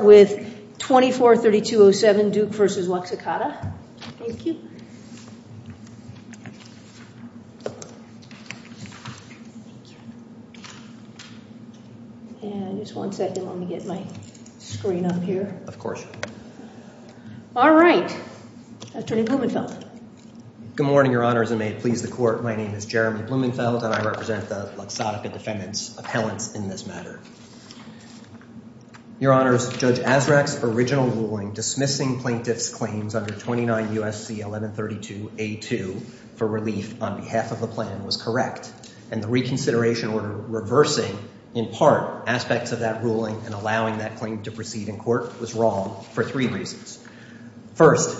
with 24-3207 Duke v. Waxakata. Thank you. And just one second, let me get my screen up here. Of course. All right. Attorney Blumenfeld. Good morning, Your Honors, and may it please the Court, my name is Jeremy Blumenfeld and I represent the Luxottica Defendant's appellants in this matter. Your Honors, Judge Azraq's original ruling dismissing plaintiff's claims under 29 U.S.C. 1132a2 for relief on behalf of the plan was correct, and the reconsideration order reversing in part aspects of that ruling and allowing that claim to proceed in court was wrong for three reasons. First,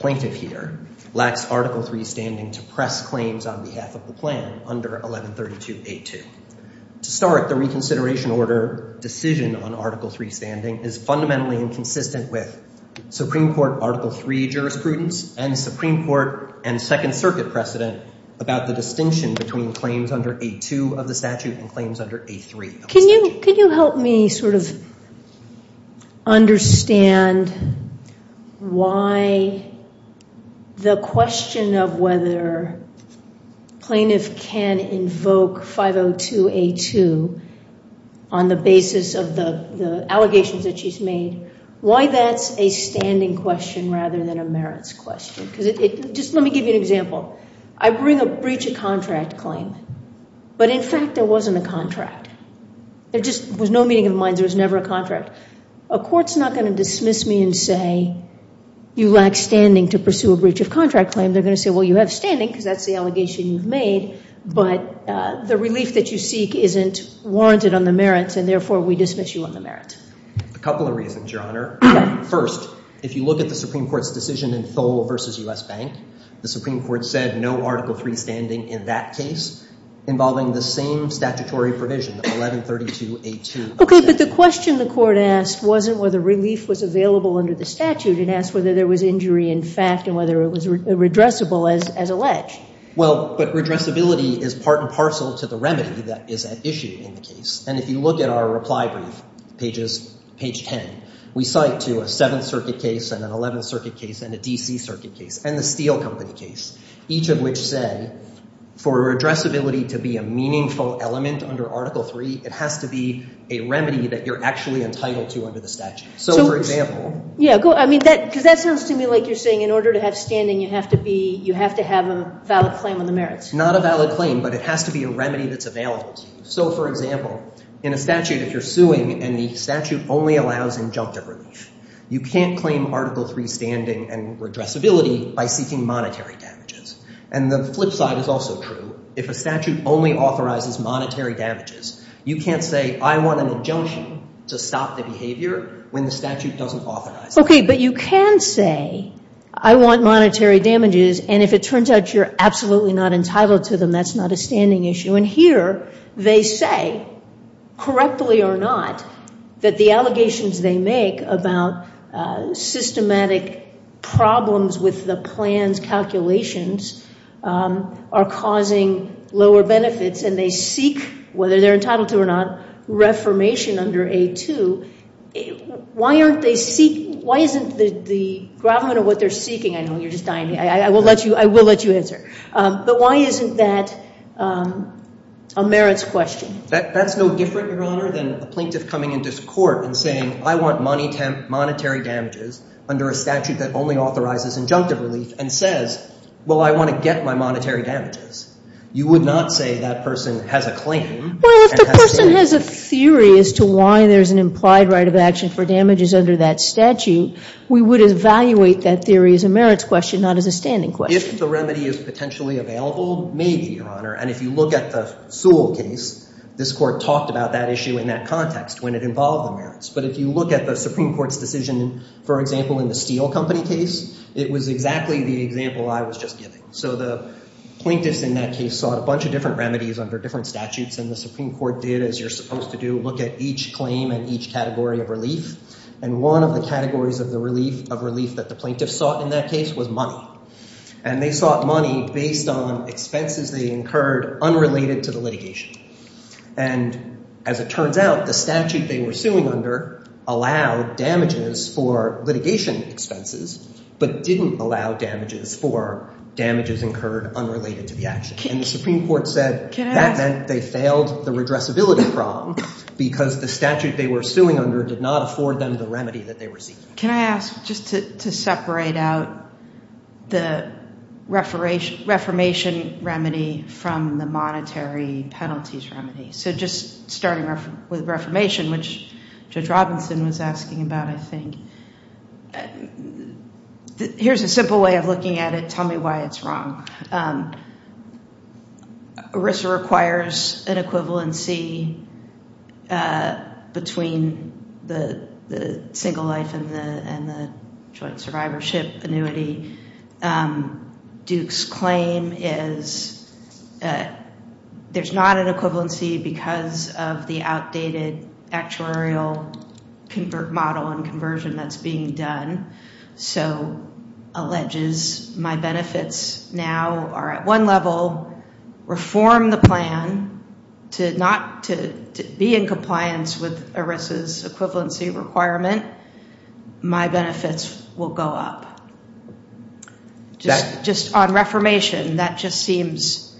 plaintiff here lacks Article III standing to press claims on behalf of the plan under 1132a2. To start, the reconsideration order decision on Article III standing is fundamentally inconsistent with Supreme Court Article III jurisprudence and Supreme Court and Second Circuit precedent about the distinction between claims under a2 of the statute and claims under a3 of the Can you help me sort of understand why the question of whether plaintiff can invoke 502a2 on the basis of the allegations that she's made, why that's a standing question rather than a merits question? Just let me give you an example. I bring a breach of contract claim, but in fact there wasn't a contract. There just was no meeting of the minds. There was never a contract. A court's not going to dismiss me and say you lack standing to pursue a breach of contract claim. They're going to say, well, you have standing because that's the allegation you've made, but the relief that you seek isn't warranted on the merits, and therefore we dismiss you on the merits. A couple of reasons, Your Honor. First, if you look at the Supreme Court's decision in Thole v. U.S. Bank, the Supreme Court said no Article III standing in that case involving the same statutory provision, 1132a2. Okay, but the question the court asked wasn't whether relief was available under the statute. It asked whether there was injury in fact and whether it was redressable as alleged. Well, but redressability is part and parcel to the remedy that is at issue in the case, and if you look at our reply brief pages, page 10, we cite to a Seventh Circuit case and an Eleventh Circuit case and a D.C. Circuit case and the Steele Company case, each of which said for redressability to be a meaningful element under Article III, it has to be a remedy that you're actually entitled to under the statute. So, for example. Yeah, go ahead. I mean, because that sounds to me like you're saying in order to have standing, you have to have a valid claim on the merits. Not a valid claim, but it has to be a remedy that's available to you. So, for example, in a statute, if you're suing and the statute only allows injunctive relief, you can't claim Article III standing and redressability by seeking monetary damages. And the flip side is also true. If a statute only authorizes monetary damages, you can't say I want an injunction to stop the behavior when the statute doesn't authorize it. Okay, but you can say I want monetary damages, and if it turns out you're absolutely not entitled to them, that's not a standing issue. And here, they say, correctly or not, that the allegations they make about systematic problems with the plan's calculations are causing lower benefits, and they seek, whether they're entitled to or not, reformation under A2. Why aren't they seeking? Why isn't the government or what they're seeking? I know you're just dying to hear. I will let you answer. But why isn't that a merits question? That's no different, Your Honor, than a plaintiff coming into court and saying, I want monetary damages under a statute that only authorizes injunctive relief and says, well, I want to get my monetary damages. You would not say that person has a claim. Well, if the person has a theory as to why there's an implied right of action for damages under that statute, we would evaluate that theory as a merits question, not as a standing question. If the remedy is potentially available, maybe, Your Honor. And if you look at the Sewell case, this court talked about that issue in that context when it involved the merits. But if you look at the Supreme Court's decision, for example, in the Steel Company case, it was exactly the example I was just giving. So the plaintiffs in that case sought a bunch of different remedies under different statutes, and the Supreme Court did, as you're supposed to do, look at each claim and each category of relief. And one of the categories of relief that the plaintiffs sought in that case was money. And they sought money based on expenses they incurred unrelated to the litigation. And as it turns out, the statute they were suing under allowed damages for litigation expenses but didn't allow damages for damages incurred unrelated to the action. And the Supreme Court said that meant they failed the redressability problem because the statute they were suing under did not afford them the remedy that they were seeking. Can I ask just to separate out the reformation remedy from the monetary penalties remedy? So just starting with reformation, which Judge Robinson was asking about, I think. Here's a simple way of looking at it. Tell me why it's wrong. ERISA requires an equivalency between the single life and the joint survivorship annuity. Duke's claim is there's not an equivalency because of the outdated actuarial model and conversion that's being done. So alleges my benefits now are at one level. Reform the plan to not be in compliance with ERISA's equivalency requirement. My benefits will go up. Just on reformation, that just seems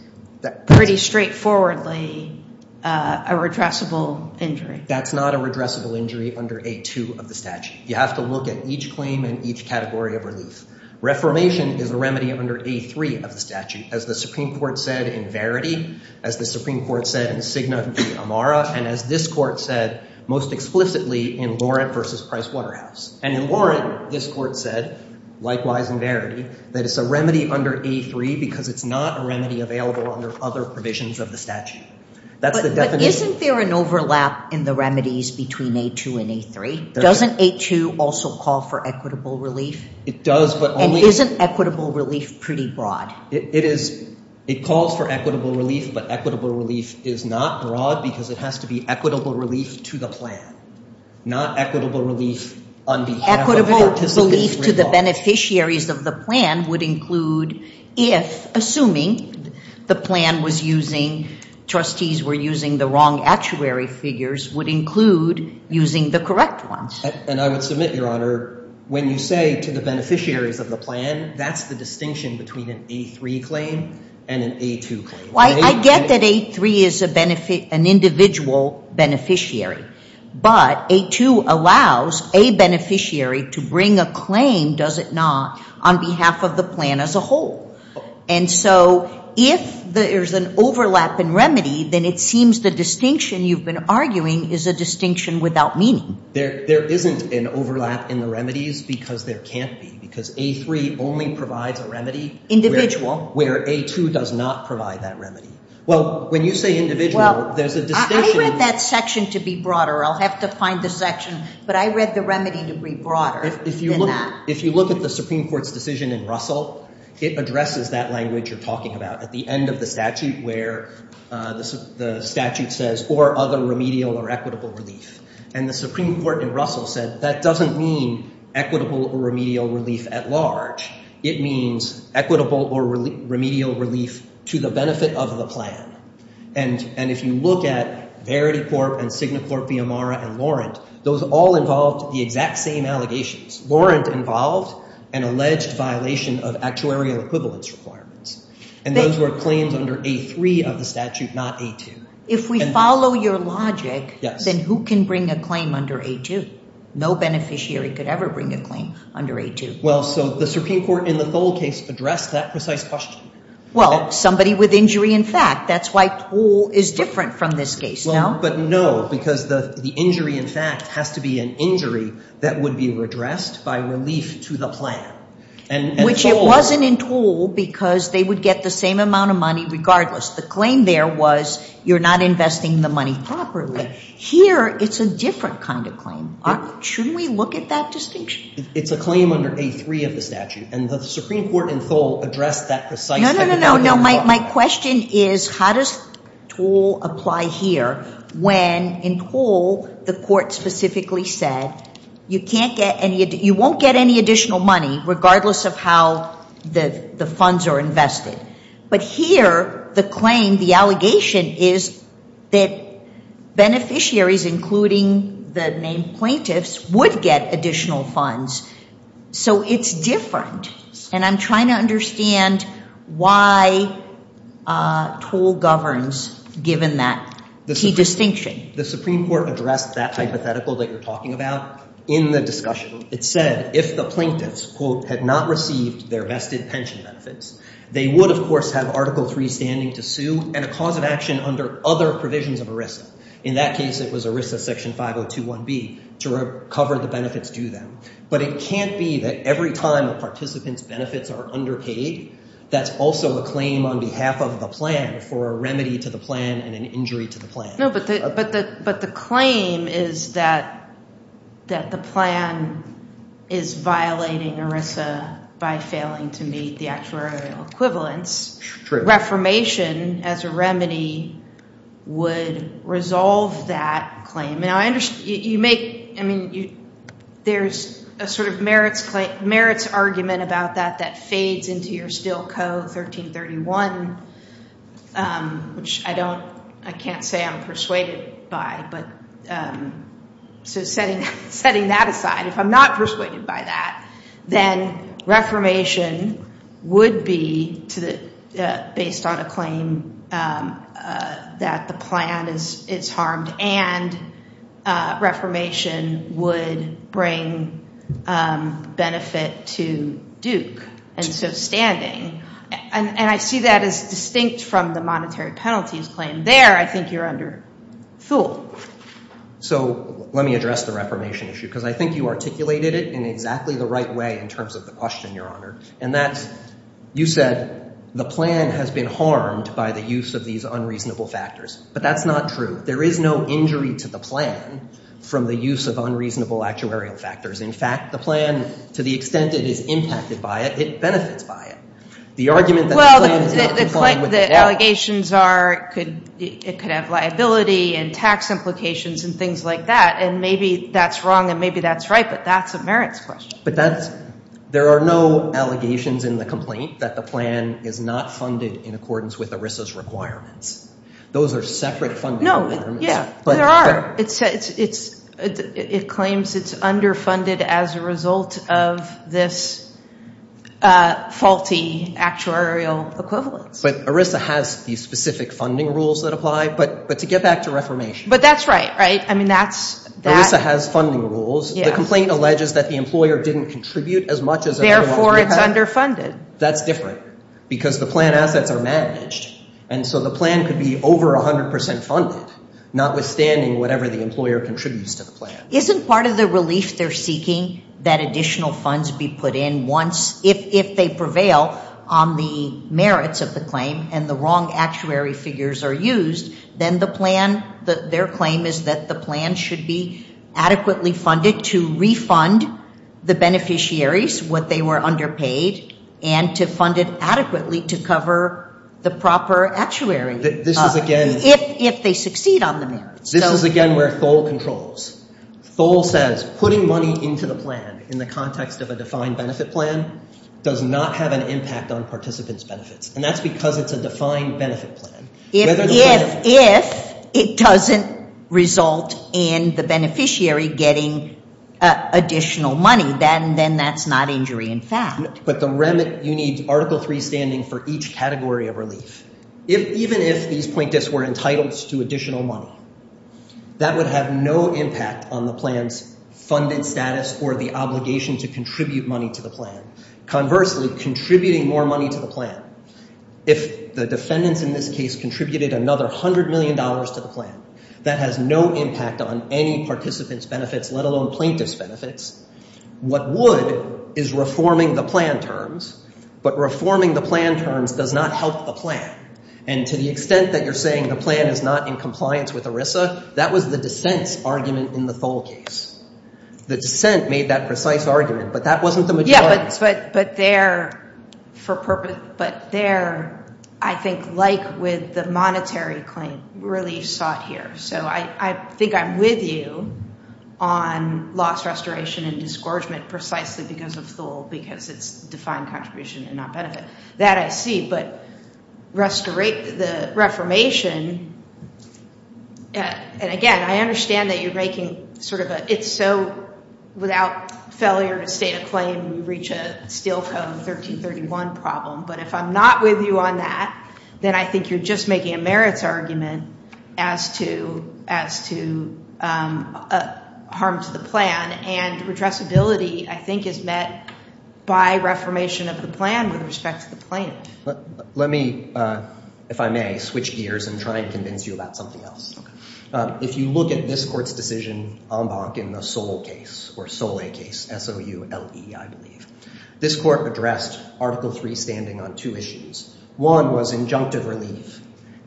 pretty straightforwardly a redressable injury. That's not a redressable injury under A2 of the statute. You have to look at each claim and each category of relief. Reformation is a remedy under A3 of the statute, as the Supreme Court said in Verity, as the Supreme Court said in Cigna v. Amara, and as this Court said most explicitly in Laurent v. Price Waterhouse. And in Laurent, this Court said, likewise in Verity, that it's a remedy under A3 because it's not a remedy available under other provisions of the statute. But isn't there an overlap in the remedies between A2 and A3? Doesn't A2 also call for equitable relief? And isn't equitable relief pretty broad? It calls for equitable relief, but equitable relief is not broad because it has to be equitable relief to the plan, not equitable relief on behalf of participants. Equitable relief to the beneficiaries of the plan would include if, assuming the plan was using, trustees were using the wrong actuary figures, would include using the correct ones. And I would submit, Your Honor, when you say to the beneficiaries of the plan, that's the distinction between an A3 claim and an A2 claim. I get that A3 is an individual beneficiary, but A2 allows a beneficiary to bring a claim, does it not, on behalf of the plan as a whole. And so if there's an overlap in remedy, then it seems the distinction you've been arguing is a distinction without meaning. There isn't an overlap in the remedies because there can't be, because A3 only provides a remedy where A2 does not provide that remedy. Well, when you say individual, there's a distinction. I read that section to be broader. I'll have to find the section, but I read the remedy to be broader than that. If you look at the Supreme Court's decision in Russell, it addresses that language you're talking about at the end of the statute where the statute says, or other remedial or equitable relief. And the Supreme Court in Russell said that doesn't mean equitable or remedial relief at large. It means equitable or remedial relief to the benefit of the plan. And if you look at Verity Corp. and Signicorp, Viamara, and Laurent, those all involved the exact same allegations. Laurent involved an alleged violation of actuarial equivalence requirements. And those were claims under A3 of the statute, not A2. If we follow your logic, then who can bring a claim under A2? No beneficiary could ever bring a claim under A2. Well, so the Supreme Court in the Thole case addressed that precise question. Well, somebody with injury in fact. That's why Thole is different from this case, no? But no, because the injury in fact has to be an injury that would be addressed by relief to the plan. Which it wasn't in Thole because they would get the same amount of money regardless. The claim there was you're not investing the money properly. Here it's a different kind of claim. Shouldn't we look at that distinction? It's a claim under A3 of the statute. And the Supreme Court in Thole addressed that precise type of claim. No, no, no, no. My question is how does Thole apply here when in Thole the court specifically said you won't get any additional money regardless of how the funds are invested. But here the claim, the allegation is that beneficiaries, including the named plaintiffs, would get additional funds. So it's different. And I'm trying to understand why Thole governs given that key distinction. The Supreme Court addressed that hypothetical that you're talking about in the discussion. It said if the plaintiffs, quote, had not received their vested pension benefits, they would, of course, have Article III standing to sue and a cause of action under other provisions of ERISA. In that case it was ERISA Section 5021B to cover the benefits due them. But it can't be that every time a participant's benefits are underpaid that's also a claim on behalf of the plan for a remedy to the plan and an injury to the plan. No, but the claim is that the plan is violating ERISA by failing to meet the actuarial equivalence. Reformation as a remedy would resolve that claim. I mean, there's a sort of merits argument about that that fades into your Stilco 1331, which I can't say I'm persuaded by. So setting that aside, if I'm not persuaded by that, then reformation would be based on a claim that the plan is harmed and reformation would bring benefit to Duke. And so standing. And I see that as distinct from the monetary penalties claim. There I think you're under fool. So let me address the reformation issue because I think you articulated it in exactly the right way in terms of the question, Your Honor. And that's you said the plan has been harmed by the use of these unreasonable factors. But that's not true. There is no injury to the plan from the use of unreasonable actuarial factors. In fact, the plan, to the extent it is impacted by it, it benefits by it. The argument that the plan is not complying with the act. Well, the allegations are it could have liability and tax implications and things like that. And maybe that's wrong and maybe that's right, but that's a merits question. But there are no allegations in the complaint that the plan is not funded in accordance with ERISA's requirements. Those are separate funding requirements. No, yeah. There are. It claims it's underfunded as a result of this faulty actuarial equivalence. But ERISA has these specific funding rules that apply. But to get back to reformation. But that's right, right? I mean, that's. ERISA has funding rules. The complaint alleges that the employer didn't contribute as much as. Therefore, it's underfunded. That's different because the plan assets are managed. And so the plan could be over 100% funded, notwithstanding whatever the employer contributes to the plan. Isn't part of the relief they're seeking that additional funds be put in once. If they prevail on the merits of the claim and the wrong actuary figures are used, then the plan. Their claim is that the plan should be adequately funded to refund the beneficiaries what they were underpaid. And to fund it adequately to cover the proper actuary. This is, again. If they succeed on the merits. This is, again, where Thole controls. Thole says putting money into the plan in the context of a defined benefit plan does not have an impact on participants' benefits. And that's because it's a defined benefit plan. If it doesn't result in the beneficiary getting additional money, then that's not injury in fact. But the remit, you need Article 3 standing for each category of relief. Even if these plaintiffs were entitled to additional money. That would have no impact on the plan's funded status or the obligation to contribute money to the plan. Conversely, contributing more money to the plan. If the defendants in this case contributed another $100 million to the plan. That has no impact on any participant's benefits, let alone plaintiff's benefits. What would is reforming the plan terms. But reforming the plan terms does not help the plan. And to the extent that you're saying the plan is not in compliance with ERISA. That was the dissent's argument in the Thole case. The dissent made that precise argument. But that wasn't the majority. But there, I think like with the monetary claim, relief sought here. So I think I'm with you on loss restoration and disgorgement precisely because of Thole. Because it's defined contribution and not benefit. That I see. But the reformation, and again, I understand that you're making sort of a, I think it's so without failure to state a claim, you reach a Steel Co. 1331 problem. But if I'm not with you on that, then I think you're just making a merits argument as to harm to the plan. And redressability, I think, is met by reformation of the plan with respect to the plaintiff. Let me, if I may, switch gears and try and convince you about something else. If you look at this court's decision en banc in the Sole case, or Sole case, S-O-U-L-E, I believe, this court addressed Article III standing on two issues. One was injunctive relief.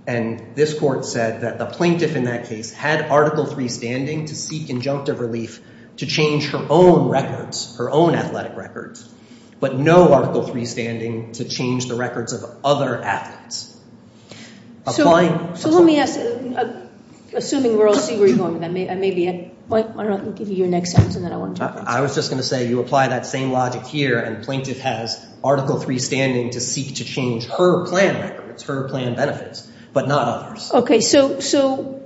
And this court said that the plaintiff in that case had Article III standing to seek injunctive relief to change her own records, her own athletic records, but no Article III standing to change the records of other athletes. So let me ask, assuming we're all seeing where you're going with that, maybe I might want to give you your next sentence, and then I want to talk about it. I was just going to say you apply that same logic here, and the plaintiff has Article III standing to seek to change her plan records, her plan benefits, but not others. Okay, so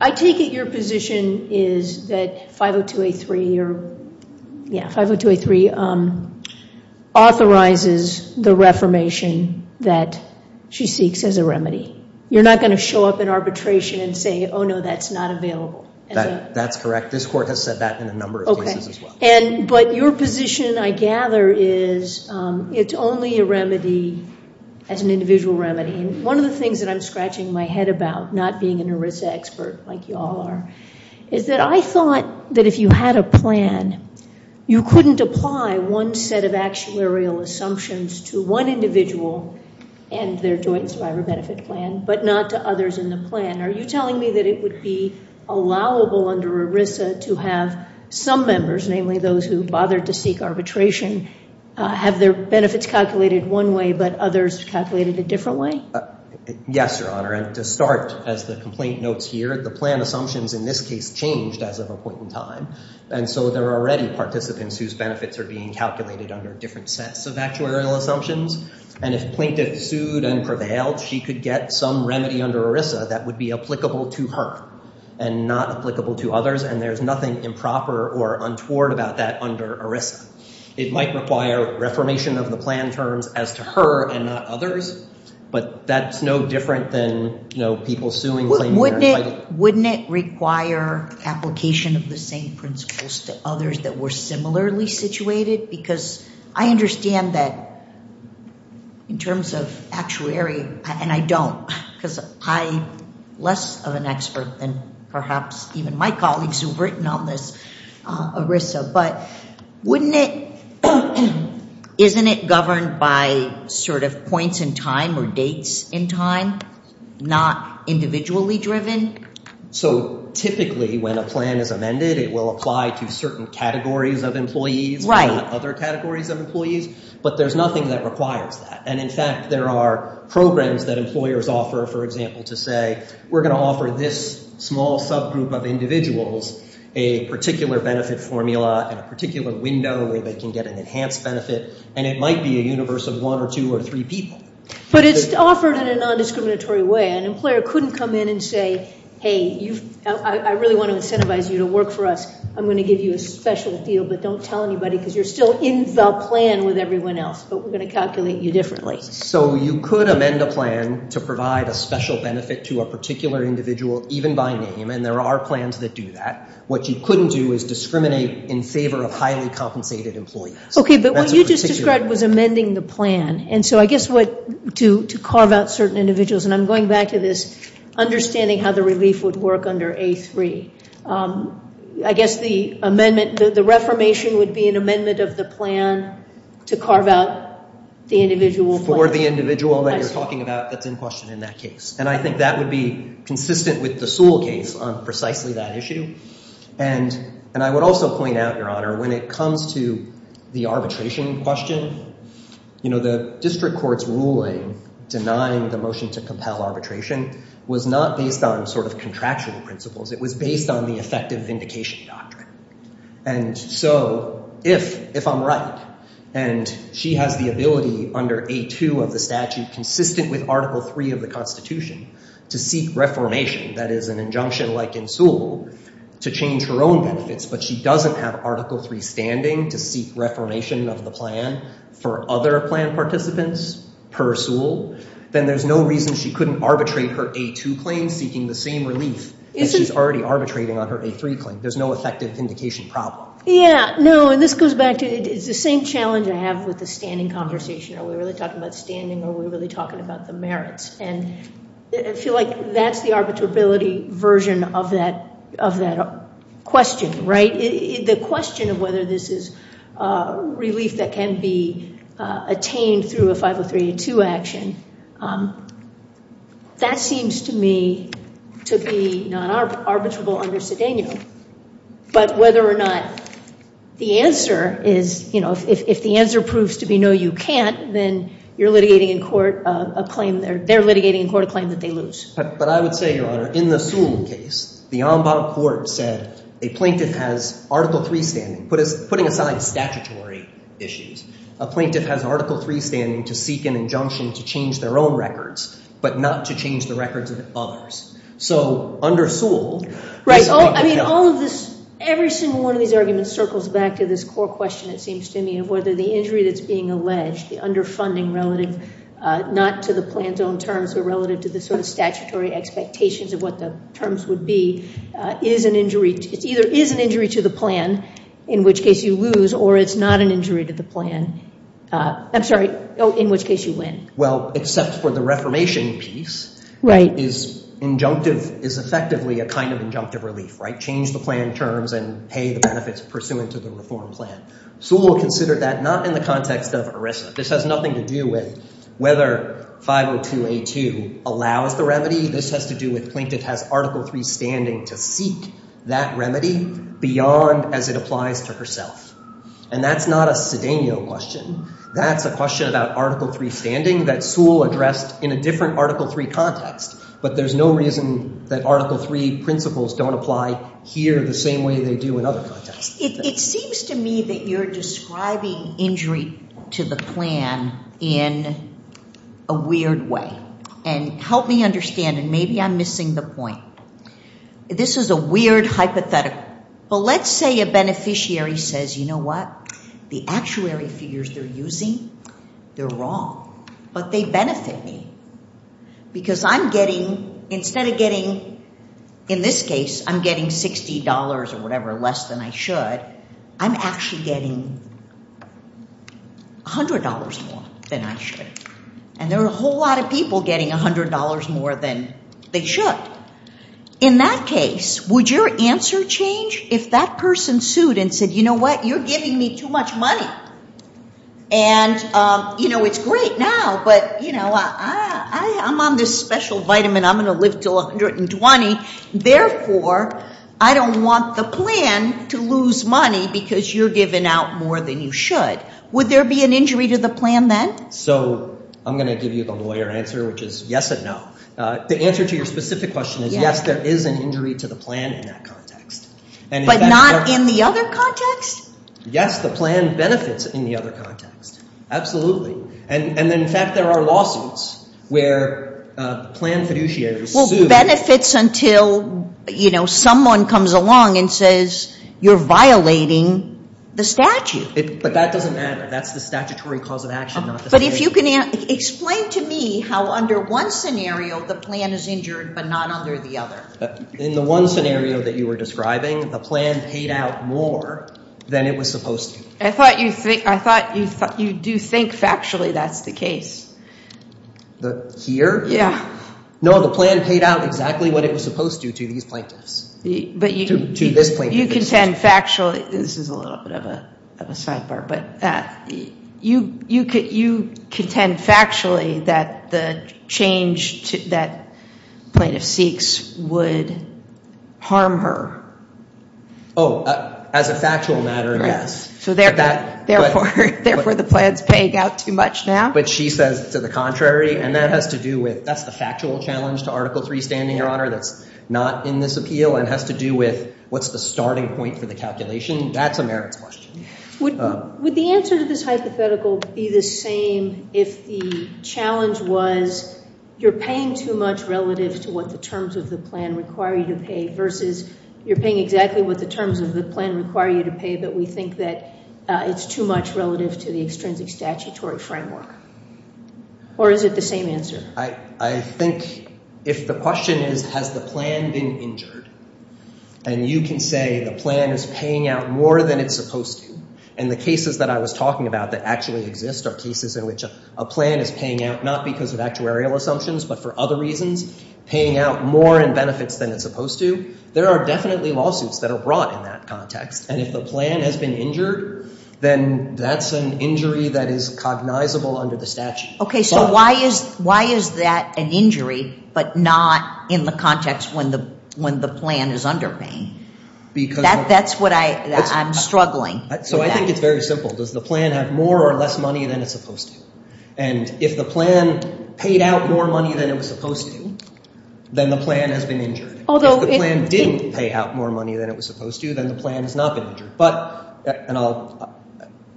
I take it your position is that 502A3 authorizes the reformation that she seeks as a remedy. You're not going to show up in arbitration and say, oh, no, that's not available. That's correct. This court has said that in a number of cases as well. Okay. But your position, I gather, is it's only a remedy as an individual remedy. One of the things that I'm scratching my head about, not being an ERISA expert like you all are, is that I thought that if you had a plan, you couldn't apply one set of actuarial assumptions to one individual and their joint survivor benefit plan, but not to others in the plan. Are you telling me that it would be allowable under ERISA to have some members, namely those who bothered to seek arbitration, have their benefits calculated one way but others calculated a different way? Yes, Your Honor, and to start, as the complaint notes here, the plan assumptions in this case changed as of a point in time, and so there are already participants whose benefits are being calculated under different sets of actuarial assumptions, and if plaintiff sued and prevailed, she could get some remedy under ERISA that would be applicable to her and not applicable to others, and there's nothing improper or untoward about that under ERISA. It might require reformation of the plan terms as to her and not others, but that's no different than people suing. Wouldn't it require application of the same principles to others that were similarly situated? Because I understand that in terms of actuary, and I don't, because I'm less of an expert than perhaps even my colleagues who've written on this ERISA, but wouldn't it, isn't it governed by sort of points in time or dates in time, not individually driven? So typically when a plan is amended, it will apply to certain categories of employees, not other categories of employees, but there's nothing that requires that, and in fact there are programs that employers offer, for example, to say, we're going to offer this small subgroup of individuals a particular benefit formula and a particular window where they can get an enhanced benefit, and it might be a universe of one or two or three people. But it's offered in a non-discriminatory way. An employer couldn't come in and say, hey, I really want to incentivize you to work for us. I'm going to give you a special deal, but don't tell anybody because you're still in the plan with everyone else, but we're going to calculate you differently. So you could amend a plan to provide a special benefit to a particular individual, even by name, and there are plans that do that. What you couldn't do is discriminate in favor of highly compensated employees. Okay, but what you just described was amending the plan, and so I guess what to carve out certain individuals, and I'm going back to this understanding how the relief would work under A3. I guess the amendment, the reformation would be an amendment of the plan to carve out the individual plan. For the individual that you're talking about that's in question in that case, and I think that would be consistent with the Sewell case on precisely that issue. And I would also point out, Your Honor, when it comes to the arbitration question, the district court's ruling denying the motion to compel arbitration was not based on sort of contractual principles. It was based on the effective vindication doctrine. And so if I'm right and she has the ability under A2 of the statute, consistent with Article III of the Constitution, to seek reformation, that is an injunction like in Sewell, to change her own benefits, but she doesn't have Article III standing to seek reformation of the plan for other plan participants per Sewell, then there's no reason she couldn't arbitrate her A2 claim seeking the same relief that she's already arbitrating on her A3 claim. There's no effective vindication problem. Yeah, no, and this goes back to the same challenge I have with the standing conversation. Are we really talking about standing or are we really talking about the merits? And I feel like that's the arbitrability version of that question, right? The question of whether this is relief that can be attained through a 50382 action, that seems to me to be not arbitrable under Cedeno. But whether or not the answer is, you know, if the answer proves to be no, you can't, then you're litigating in court a claim there. They're litigating in court a claim that they lose. But I would say, Your Honor, in the Sewell case, the ombud court said a plaintiff has Article III standing. Putting aside statutory issues, a plaintiff has Article III standing to seek an injunction to change their own records, but not to change the records of others. So under Sewell- Right. I mean, all of this, every single one of these arguments circles back to this core question, it seems to me, of whether the injury that's being alleged, the underfunding relative not to the plan's own terms or relative to the sort of statutory expectations of what the terms would be, is an injury. It either is an injury to the plan, in which case you lose, or it's not an injury to the plan. I'm sorry, in which case you win. Well, except for the reformation piece. Right. Is injunctive, is effectively a kind of injunctive relief, right? Change the plan terms and pay the benefits pursuant to the reform plan. Sewell considered that not in the context of ERISA. This has nothing to do with whether 502A2 allows the remedy. This has to do with plaintiff has Article III standing to seek that remedy beyond as it applies to herself. And that's not a Cedeno question. That's a question about Article III standing that Sewell addressed in a different Article III context. But there's no reason that Article III principles don't apply here the same way they do in other contexts. It seems to me that you're describing injury to the plan in a weird way. And help me understand, and maybe I'm missing the point. This is a weird hypothetical. But let's say a beneficiary says, you know what, the actuary figures they're using, they're wrong. But they benefit me. Because I'm getting, instead of getting, in this case, I'm getting $60 or whatever less than I should, I'm actually getting $100 more than I should. And there are a whole lot of people getting $100 more than they should. In that case, would your answer change if that person sued and said, you know what, you're giving me too much money. And, you know, it's great now, but, you know, I'm on this special vitamin. I'm going to live until 120. Therefore, I don't want the plan to lose money because you're giving out more than you should. Would there be an injury to the plan then? So I'm going to give you the lawyer answer, which is yes and no. The answer to your specific question is yes, there is an injury to the plan in that context. But not in the other context? Yes, the plan benefits in the other context. Absolutely. And, in fact, there are lawsuits where plan fiduciaries sue. Well, benefits until, you know, someone comes along and says you're violating the statute. But that doesn't matter. That's the statutory cause of action, not the statute. But if you can explain to me how under one scenario the plan is injured but not under the other. In the one scenario that you were describing, the plan paid out more than it was supposed to. I thought you do think factually that's the case. Here? Yeah. No, the plan paid out exactly what it was supposed to to these plaintiffs. To this plaintiff. You contend factually. This is a little bit of a sidebar. But you contend factually that the change that plaintiff seeks would harm her. Oh, as a factual matter, yes. So therefore the plan is paying out too much now? But she says to the contrary. And that has to do with that's the factual challenge to Article III standing, Your Honor, that's not in this appeal. It has to do with what's the starting point for the calculation. That's a merits question. Would the answer to this hypothetical be the same if the challenge was you're paying too much relative to what the terms of the plan require you to pay versus you're paying exactly what the terms of the plan require you to pay but we think that it's too much relative to the extrinsic statutory framework? Or is it the same answer? I think if the question is has the plan been injured, and you can say the plan is paying out more than it's supposed to, and the cases that I was talking about that actually exist are cases in which a plan is paying out not because of actuarial assumptions but for other reasons, paying out more in benefits than it's supposed to, there are definitely lawsuits that are brought in that context. And if the plan has been injured, then that's an injury that is cognizable under the statute. Okay, so why is that an injury but not in the context when the plan is underpaying? That's what I'm struggling with. So I think it's very simple. Does the plan have more or less money than it's supposed to? And if the plan paid out more money than it was supposed to, then the plan has been injured. If the plan didn't pay out more money than it was supposed to, then the plan has not been injured.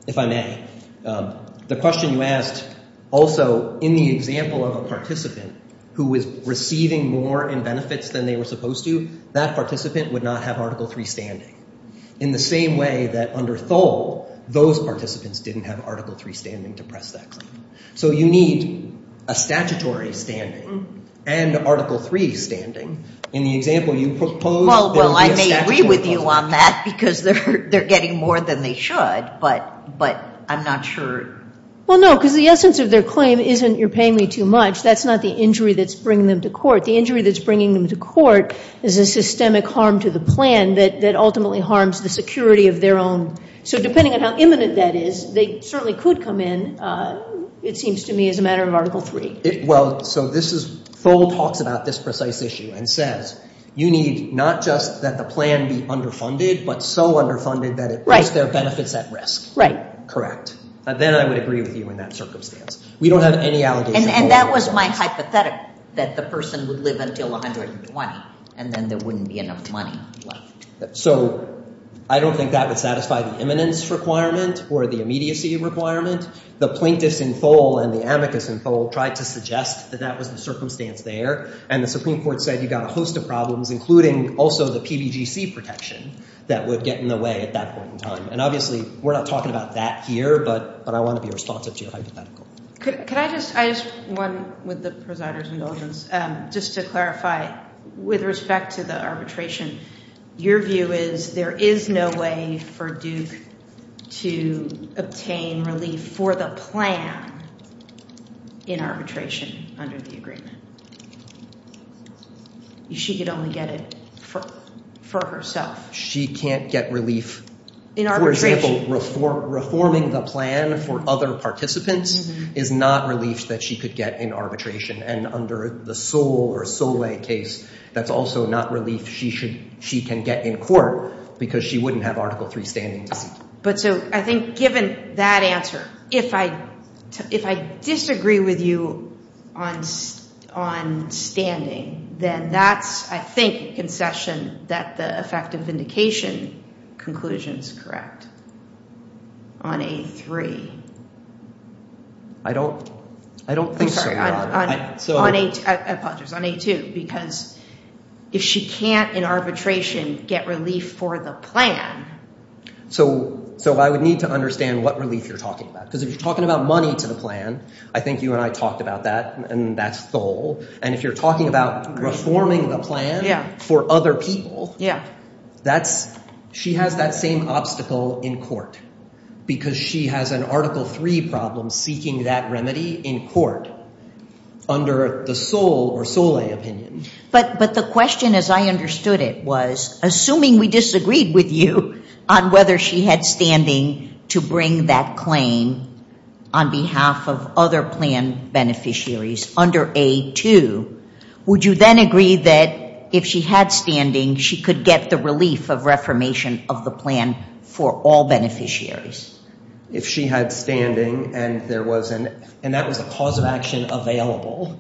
If I may, the question you asked also in the example of a participant who was receiving more in benefits than they were supposed to, that participant would not have Article III standing in the same way that under Thole, those participants didn't have Article III standing to press that claim. So you need a statutory standing and Article III standing. In the example you proposed, there would be a statutory standing. I agree with you on that because they're getting more than they should, but I'm not sure. Well, no, because the essence of their claim isn't you're paying me too much. That's not the injury that's bringing them to court. The injury that's bringing them to court is a systemic harm to the plan that ultimately harms the security of their own. So depending on how imminent that is, they certainly could come in, it seems to me, as a matter of Article III. Well, so this is – Thole talks about this precise issue and says you need not just that the plan be underfunded, but so underfunded that it puts their benefits at risk. Right. Correct. Then I would agree with you in that circumstance. We don't have any allegations. And that was my hypothetical, that the person would live until 120, and then there wouldn't be enough money left. So I don't think that would satisfy the imminence requirement or the immediacy requirement. The plaintiffs in Thole and the amicus in Thole tried to suggest that that was the circumstance there, and the Supreme Court said you've got a host of problems, including also the PBGC protection that would get in the way at that point in time. And obviously we're not talking about that here, but I want to be responsive to your hypothetical. Could I just – I just – one with the presider's indulgence. Just to clarify, with respect to the arbitration, your view is there is no way for Duke to obtain relief for the plan in arbitration under the agreement? She could only get it for herself. She can't get relief, for example, reforming the plan for other participants? Is not relief that she could get in arbitration. And under the Sol or Sole case, that's also not relief she can get in court because she wouldn't have Article III standing. But so I think given that answer, if I disagree with you on standing, then that's, I think, a concession that the effective vindication conclusion is correct on A3. I don't – I don't think so. I'm sorry. On A2. Because if she can't in arbitration get relief for the plan. So I would need to understand what relief you're talking about. Because if you're talking about money to the plan, I think you and I talked about that, and that's Thole. And if you're talking about reforming the plan for other people, that's – she has that same obstacle in court. Because she has an Article III problem seeking that remedy in court under the Sol or Sole opinion. But the question as I understood it was, assuming we disagreed with you on whether she had standing to bring that claim on behalf of other plan beneficiaries under A2, would you then agree that if she had standing, she could get the relief of reformation of the plan for all beneficiaries? If she had standing and there was an – and that was a cause of action available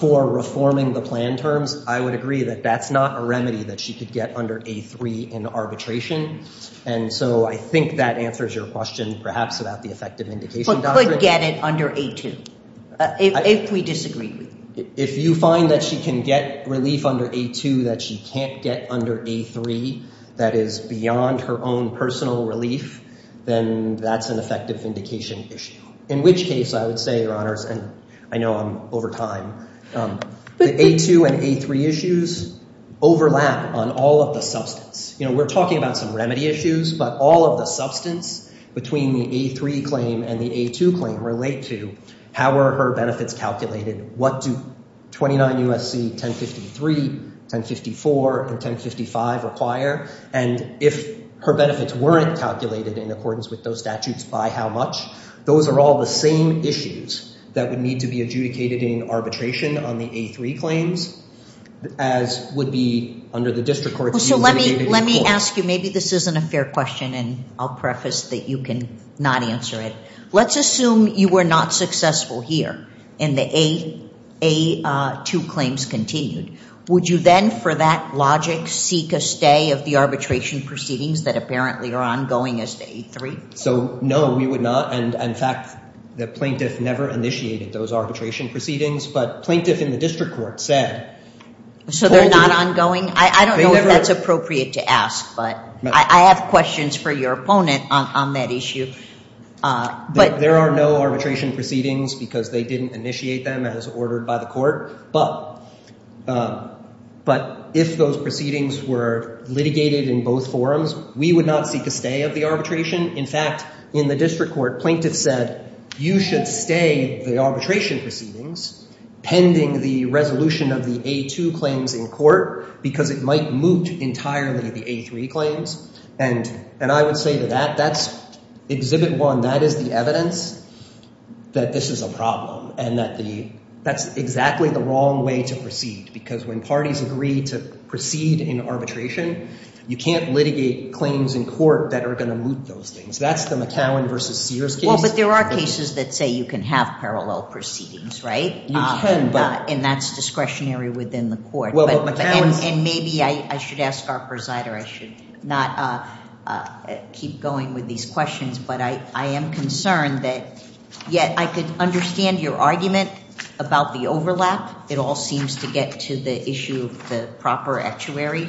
for reforming the plan terms, I would agree that that's not a remedy that she could get under A3 in arbitration. And so I think that answers your question perhaps about the effective vindication doctrine. But could get it under A2 if we disagreed with you. If you find that she can get relief under A2 that she can't get under A3 that is beyond her own personal relief, then that's an effective vindication issue. In which case, I would say, Your Honors, and I know I'm over time, the A2 and A3 issues overlap on all of the substance. You know, we're talking about some remedy issues, but all of the substance between the A3 claim and the A2 claim relate to how were her benefits calculated? What do 29 U.S.C. 1053, 1054, and 1055 require? And if her benefits weren't calculated in accordance with those statutes, by how much? Those are all the same issues that would need to be adjudicated in arbitration on the A3 claims as would be under the district court. So let me ask you, maybe this isn't a fair question and I'll preface that you can not answer it. Let's assume you were not successful here and the A2 claims continued. Would you then for that logic seek a stay of the arbitration proceedings that apparently are ongoing as to A3? So no, we would not. And in fact, the plaintiff never initiated those arbitration proceedings, but plaintiff in the district court said. So they're not ongoing? I don't know if that's appropriate to ask, but I have questions for your opponent on that issue. But there are no arbitration proceedings because they didn't initiate them as ordered by the court. But if those proceedings were litigated in both forms, we would not seek a stay of the arbitration. In fact, in the district court, plaintiff said you should stay the arbitration proceedings pending the resolution of the A2 claims in court because it might moot entirely the A3 claims. And I would say that that's exhibit one. That is the evidence that this is a problem and that's exactly the wrong way to proceed. Because when parties agree to proceed in arbitration, you can't litigate claims in court that are going to moot those things. That's the McCowan versus Sears case. Well, but there are cases that say you can have parallel proceedings, right? You can, but. And that's discretionary within the court. And maybe I should ask our presider, I should not keep going with these questions. But I am concerned that yet I could understand your argument about the overlap. It all seems to get to the issue of the proper actuary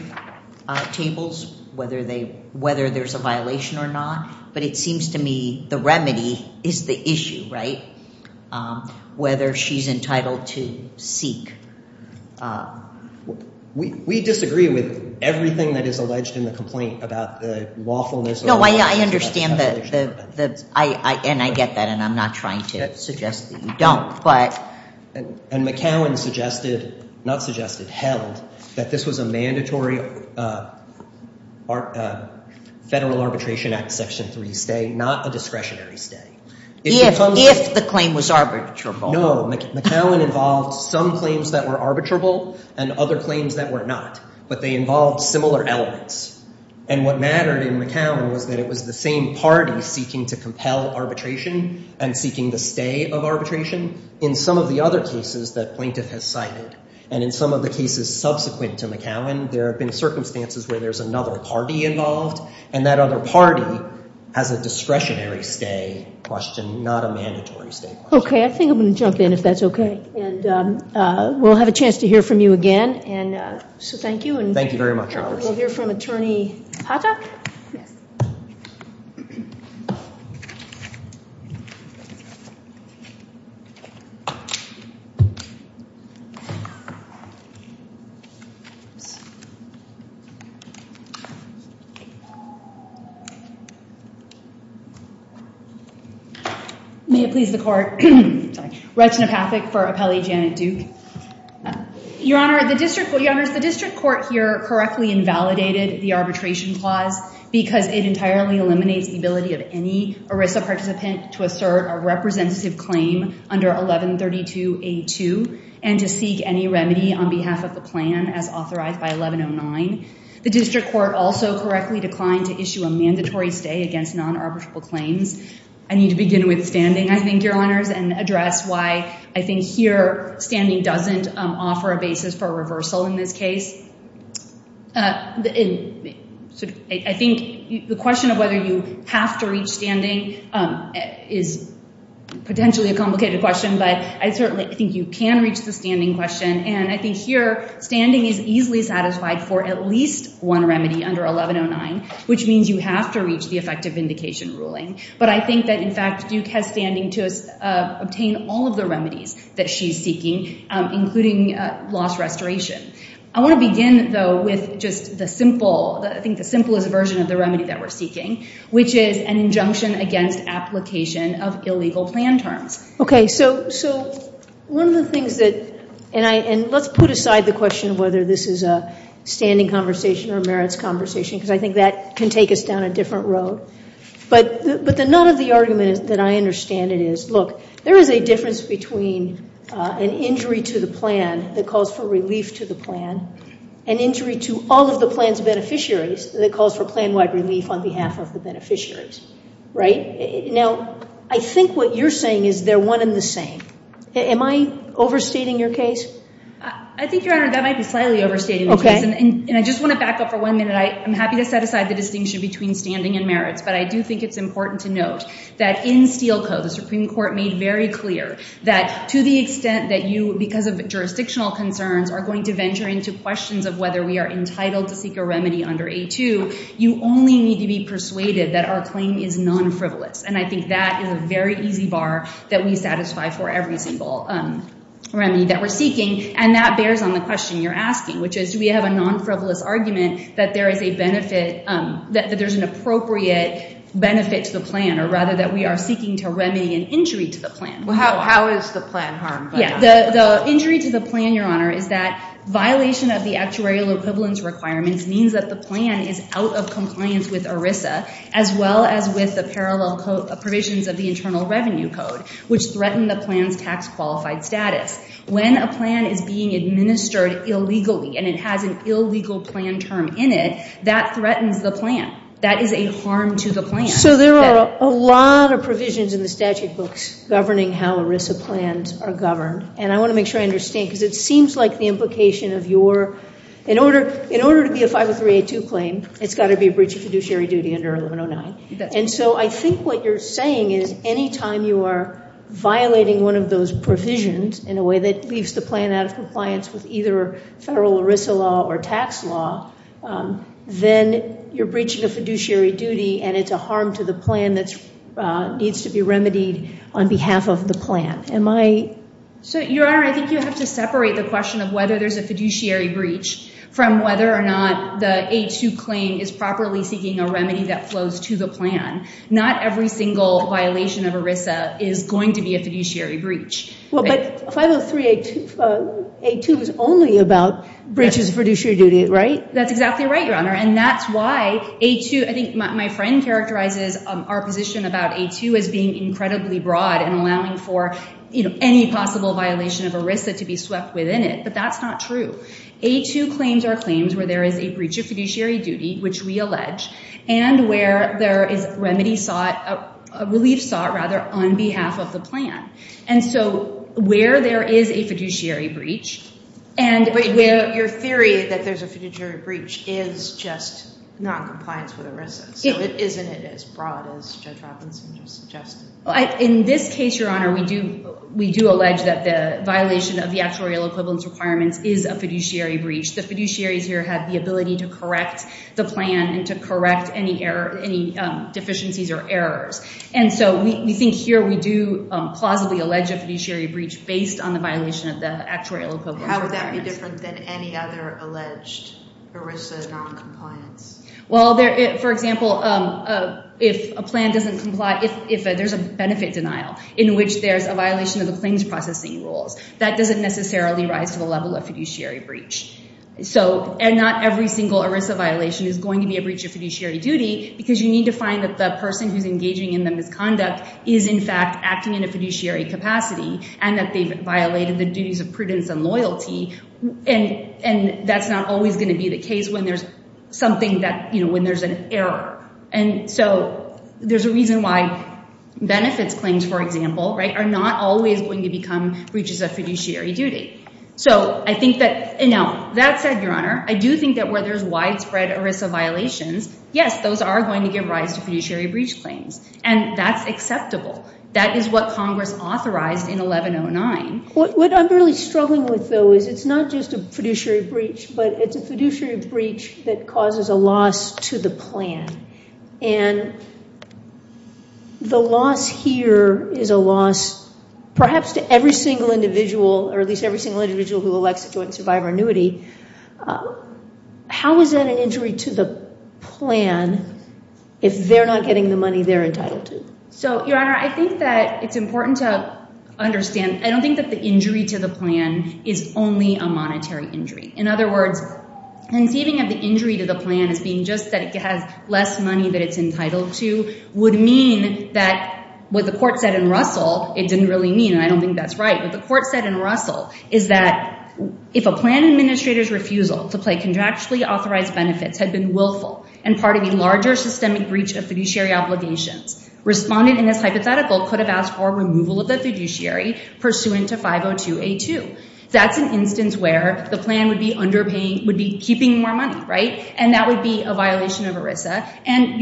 tables, whether there's a violation or not. But it seems to me the remedy is the issue, right? Whether she's entitled to seek. We disagree with everything that is alleged in the complaint about the lawfulness. No, I understand that. And I get that. And I'm not trying to suggest that you don't. And McCowan suggested, not suggested, held that this was a mandatory Federal Arbitration Act Section 3 stay, not a discretionary stay. If the claim was arbitrable. No, McCowan involved some claims that were arbitrable and other claims that were not. But they involved similar elements. And what mattered in McCowan was that it was the same party seeking to compel arbitration and seeking the stay of arbitration. In some of the other cases that plaintiff has cited, and in some of the cases subsequent to McCowan, there have been circumstances where there's another party involved. And that other party has a discretionary stay question, not a mandatory stay question. Okay, I think I'm going to jump in if that's okay. And we'll have a chance to hear from you again. So thank you. Thank you very much. We'll hear from Attorney Pata. May it please the Court. Regina Pathak for Appellee Janet Duke. Your Honor, the district court here correctly invalidated the arbitration clause because it entirely eliminates the ability of any ERISA participant to assert a representative claim under 1132A2 and to seek any remedy on behalf of the plan as authorized by 1109. The district court also correctly declined to issue a mandatory stay against non-arbitrable claims. I need to begin with standing, I think, Your Honors, and address why I think here standing doesn't offer a basis for reversal in this case. I think the question of whether you have to reach standing is potentially a complicated question, but I certainly think you can reach the standing question. And I think here standing is easily satisfied for at least one remedy under 1109, which means you have to reach the effective vindication ruling. But I think that, in fact, Duke has standing to obtain all of the remedies that she's seeking, including loss restoration. I want to begin, though, with just the simple, I think the simplest version of the remedy that we're seeking, which is an injunction against application of illegal plan terms. Okay, so one of the things that, and let's put aside the question of whether this is a standing conversation or merits conversation because I think that can take us down a different road. But the nut of the argument that I understand it is, look, there is a difference between an injury to the plan that calls for relief to the plan and injury to all of the plan's beneficiaries that calls for plan-wide relief on behalf of the beneficiaries, right? Now, I think what you're saying is they're one and the same. Am I overstating your case? I think, Your Honor, that might be slightly overstating the case. Okay. And I just want to back up for one minute. I'm happy to set aside the distinction between standing and merits, but I do think it's important to note that in Steel Co., the Supreme Court made very clear that to the extent that you, because of jurisdictional concerns, are going to venture into questions of whether we are entitled to seek a remedy under A2, you only need to be persuaded that our claim is non-frivolous. And I think that is a very easy bar that we satisfy for every single remedy that we're seeking, and that bears on the question you're asking, which is do we have a non-frivolous argument that there is a benefit, that there's an appropriate benefit to the plan, or rather that we are seeking to remedy an injury to the plan. How is the plan harmed by that? The injury to the plan, Your Honor, is that violation of the actuarial equivalence requirements means that the plan is out of compliance with ERISA, as well as with the parallel provisions of the Internal Revenue Code, which threaten the plan's tax-qualified status. When a plan is being administered illegally and it has an illegal plan term in it, that threatens the plan. That is a harm to the plan. So there are a lot of provisions in the statute books governing how ERISA plans are governed, and I want to make sure I understand, because it seems like the implication of your – in order to be a 50382 claim, it's got to be a breach of fiduciary duty under 1109. And so I think what you're saying is any time you are violating one of those provisions in a way that leaves the plan out of compliance with either federal ERISA law or tax law, then you're breaching a fiduciary duty and it's a harm to the plan that needs to be remedied on behalf of the plan. Am I – So, Your Honor, I think you have to separate the question of whether there's a fiduciary breach from whether or not the A2 claim is properly seeking a remedy that flows to the plan. Not every single violation of ERISA is going to be a fiduciary breach. Well, but 50382 is only about breaches of fiduciary duty, right? That's exactly right, Your Honor, and that's why A2 – I think my friend characterizes our position about A2 as being incredibly broad and allowing for any possible violation of ERISA to be swept within it, but that's not true. A2 claims are claims where there is a breach of fiduciary duty, which we allege, and where there is remedy sought – relief sought, rather, on behalf of the plan. And so where there is a fiduciary breach – But your theory that there's a fiduciary breach is just noncompliance with ERISA, so isn't it as broad as Judge Robinson just suggested? In this case, Your Honor, we do allege that the violation of the actuarial equivalence requirements is a fiduciary breach. The fiduciaries here have the ability to correct the plan and to correct any deficiencies or errors. And so we think here we do plausibly allege a fiduciary breach based on the violation of the actuarial equivalence requirements. How would that be different than any other alleged ERISA noncompliance? Well, for example, if a plan doesn't comply – if there's a benefit denial in which there's a violation of the claims processing rules, that doesn't necessarily rise to the level of fiduciary breach. And not every single ERISA violation is going to be a breach of fiduciary duty because you need to find that the person who's engaging in the misconduct is in fact acting in a fiduciary capacity and that they've violated the duties of prudence and loyalty. And that's not always going to be the case when there's something that – when there's an error. And so there's a reason why benefits claims, for example, are not always going to become breaches of fiduciary duty. So I think that – now, that said, Your Honor, I do think that where there's widespread ERISA violations, yes, those are going to give rise to fiduciary breach claims. And that's acceptable. That is what Congress authorized in 1109. What I'm really struggling with, though, is it's not just a fiduciary breach, but it's a fiduciary breach that causes a loss to the plan. And the loss here is a loss perhaps to every single individual, or at least every single individual who elects a joint survivor annuity. How is that an injury to the plan if they're not getting the money they're entitled to? So, Your Honor, I think that it's important to understand – I don't think that the injury to the plan is only a monetary injury. In other words, conceiving of the injury to the plan as being just that it has less money that it's entitled to would mean that what the court said in Russell, it didn't really mean, and I don't think that's right. What the court said in Russell is that if a plan administrator's refusal to play contractually authorized benefits had been willful and part of a larger systemic breach of fiduciary obligations, respondent in this hypothetical could have asked for removal of the fiduciary pursuant to 502A2. That's an instance where the plan would be keeping more money, right? And that would be a violation of ERISA. And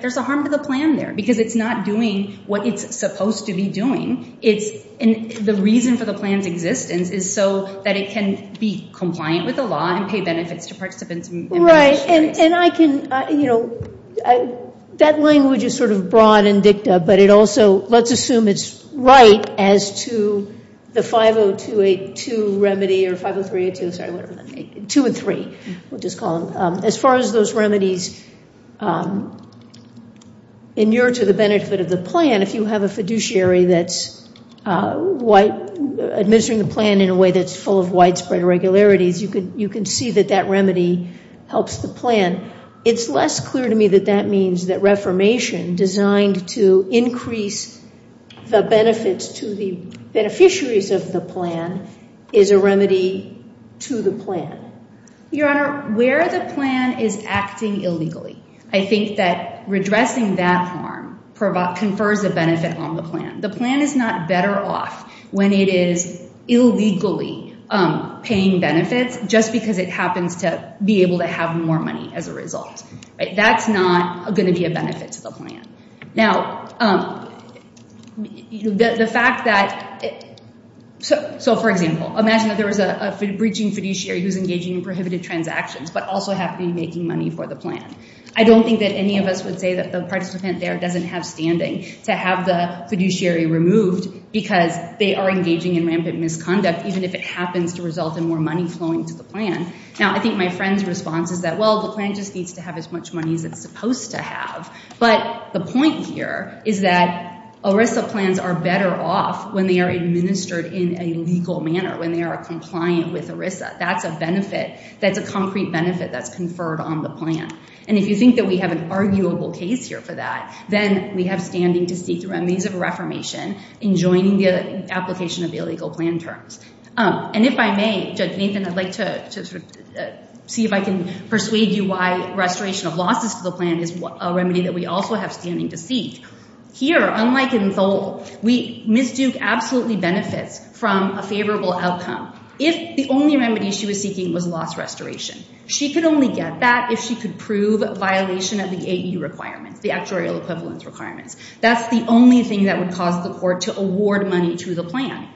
there's a harm to the plan there because it's not doing what it's supposed to be doing. The reason for the plan's existence is so that it can be compliant with the law and pay benefits to participants and beneficiaries. Right, and I can – that language is sort of broad and dicta, but it also – let's assume it's right as to the 502A2 remedy or 503A2, sorry, whatever, 2 and 3, we'll just call them. As far as those remedies inured to the benefit of the plan, if you have a fiduciary that's white – administering the plan in a way that's full of widespread irregularities, you can see that that remedy helps the plan. It's less clear to me that that means that reformation designed to increase the benefits to the beneficiaries of the plan is a remedy to the plan. Your Honor, where the plan is acting illegally, I think that redressing that harm confers a benefit on the plan. The plan is not better off when it is illegally paying benefits just because it happens to be able to have more money as a result. That's not going to be a benefit to the plan. Now, the fact that – so, for example, imagine that there was a breaching fiduciary who's engaging in prohibited transactions but also have been making money for the plan. I don't think that any of us would say that the participant there doesn't have standing to have the fiduciary removed because they are engaging in rampant misconduct, even if it happens to result in more money flowing to the plan. Now, I think my friend's response is that, well, the plan just needs to have as much money as it's supposed to have. But the point here is that ERISA plans are better off when they are administered in a legal manner, when they are compliant with ERISA. That's a benefit. That's a concrete benefit that's conferred on the plan. And if you think that we have an arguable case here for that, then we have standing to seek remedies of reformation in joining the application of illegal plan terms. And if I may, Judge Nathan, I'd like to see if I can persuade you why restoration of losses to the plan is a remedy that we also have standing to seek. Here, unlike in Thole, Ms. Duke absolutely benefits from a favorable outcome. If the only remedy she was seeking was loss restoration, she could only get that if she could prove a violation of the AE requirements, the actuarial equivalence requirements. That's the only thing that would cause the court to award money to the plan.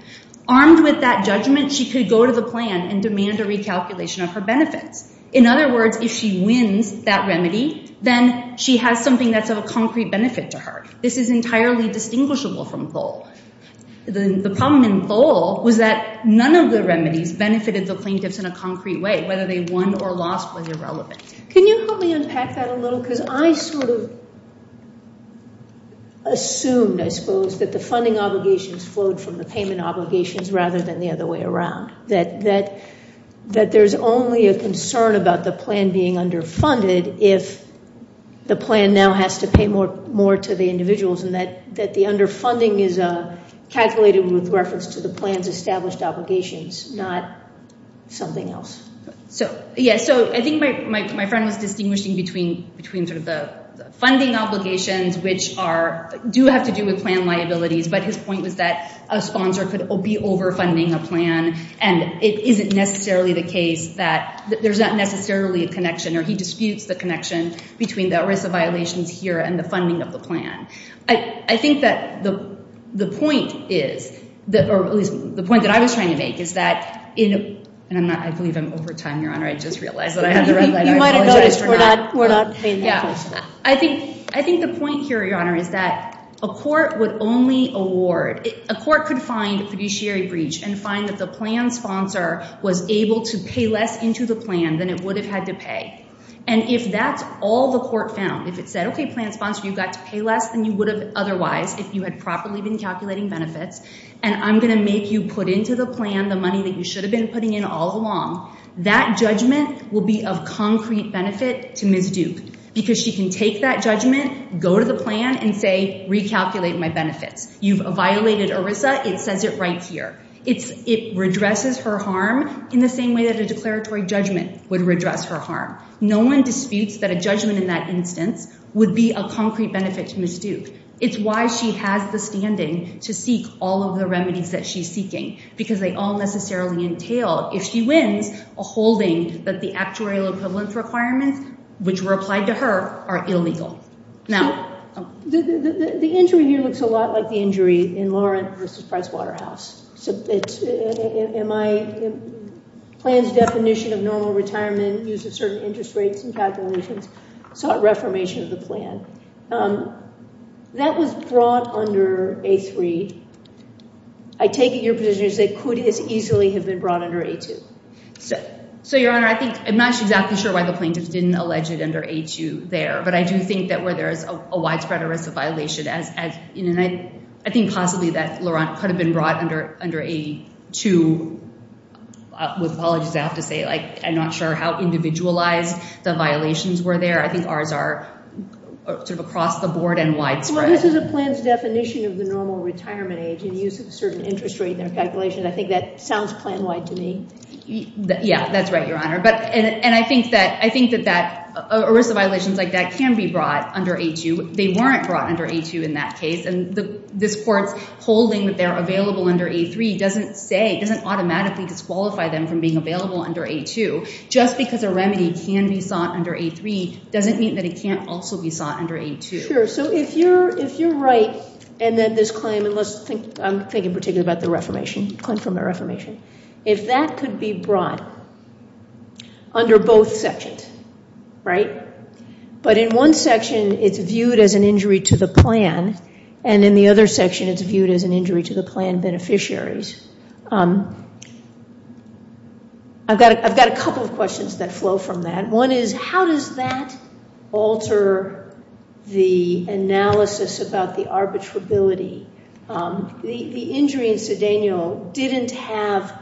Armed with that judgment, she could go to the plan and demand a recalculation of her benefits. In other words, if she wins that remedy, then she has something that's of a concrete benefit to her. This is entirely distinguishable from Thole. The problem in Thole was that none of the remedies benefited the plaintiffs in a concrete way, whether they won or lost was irrelevant. Can you help me unpack that a little? Because I sort of assumed, I suppose, that the funding obligations flowed from the payment obligations rather than the other way around, that there's only a concern about the plan being underfunded if the plan now has to pay more to the individuals, and that the underfunding is calculated with reference to the plan's established obligations, not something else. I think my friend was distinguishing between the funding obligations, which do have to do with plan liabilities, but his point was that a sponsor could be overfunding a plan, and it isn't necessarily the case that there's not necessarily a connection, or he disputes the connection between the ERISA violations here and the funding of the plan. I think that the point is, or at least the point that I was trying to make, is that in a, and I believe I'm over time, Your Honor, I just realized that I had to run out of time. You might have noticed we're not paying that closely. I think the point here, Your Honor, is that a court would only award, a court could find a fiduciary breach and find that the plan sponsor was able to pay less into the plan than it would have had to pay. And if that's all the court found, if it said, okay, plan sponsor, you got to pay less than you would have otherwise if you had properly been calculating benefits, and I'm going to make you put into the plan the money that you should have been putting in all along, that judgment will be of concrete benefit to Ms. Duke because she can take that judgment, go to the plan, and say, recalculate my benefits. You've violated ERISA, it says it right here. It redresses her harm in the same way that a declaratory judgment would redress her harm. No one disputes that a judgment in that instance would be of concrete benefit to Ms. Duke. It's why she has the standing to seek all of the remedies that she's seeking because they all necessarily entail, if she wins, a holding that the actuarial equivalence requirements, which were applied to her, are illegal. Now, the injury here looks a lot like the injury in Laurent v. Pricewaterhouse. My plan's definition of normal retirement, use of certain interest rates and calculations, sought reformation of the plan. That was brought under A3. I take it your position is it could as easily have been brought under A2. Your Honor, I'm not exactly sure why the plaintiffs didn't allege it under A2 there, but I do think that where there is a widespread ERISA violation, I think possibly that Laurent could have been brought under A2. With apologies, I have to say, I'm not sure how individualized the violations were there. I think ours are sort of across the board and widespread. Well, this is a plan's definition of the normal retirement age and use of certain interest rate and calculations. I think that sounds plan-wide to me. Yeah, that's right, Your Honor. And I think that ERISA violations like that can be brought under A2. They weren't brought under A2 in that case, and this Court's holding that they're available under A3 doesn't say, doesn't automatically disqualify them from being available under A2. Just because a remedy can be sought under A3 doesn't mean that it can't also be sought under A2. Sure. So if you're right, and then this claim, and I'm thinking particularly about the claim from the reformation, if that could be brought under both sections, right? But in one section it's viewed as an injury to the plan, and in the other section it's viewed as an injury to the plan beneficiaries. I've got a couple of questions that flow from that. One is, how does that alter the analysis about the arbitrability? The injury in Cedeno didn't have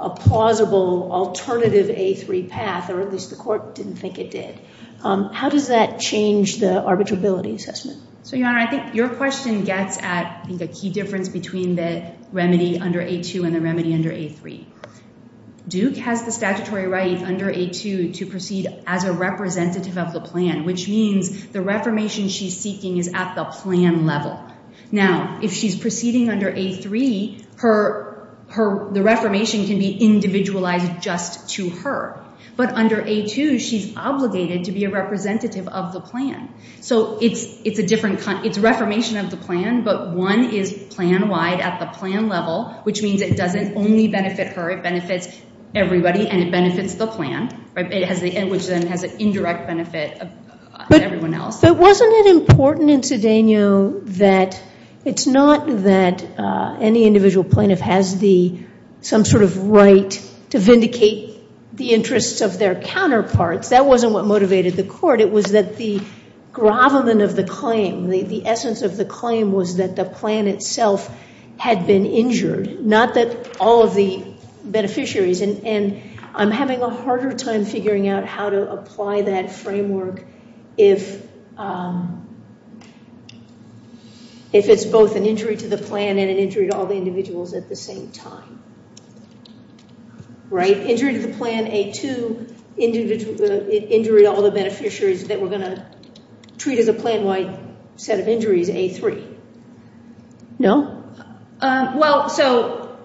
a plausible alternative A3 path, or at least the Court didn't think it did. How does that change the arbitrability assessment? So, Your Honor, I think your question gets at, I think, a key difference between the remedy under A2 and the remedy under A3. Duke has the statutory right under A2 to proceed as a representative of the plan, which means the reformation she's seeking is at the plan level. Now, if she's proceeding under A3, the reformation can be individualized just to her. But under A2, she's obligated to be a representative of the plan. So it's reformation of the plan, but one is plan-wide at the plan level, which means it doesn't only benefit her, it benefits everybody, and it benefits the plan, which then has an indirect benefit of everyone else. But wasn't it important in Cedeno that it's not that any individual plaintiff has some sort of right to vindicate the interests of their counterparts? That wasn't what motivated the Court. It was that the gravamen of the claim, the essence of the claim, was that the plan itself had been injured, not that all of the beneficiaries. And I'm having a harder time figuring out how to apply that framework if it's both an injury to the plan and an injury to all the individuals at the same time. Right? Injury to the plan A2, injury to all the beneficiaries that we're going to treat as a plan-wide set of injuries A3. No? Well, so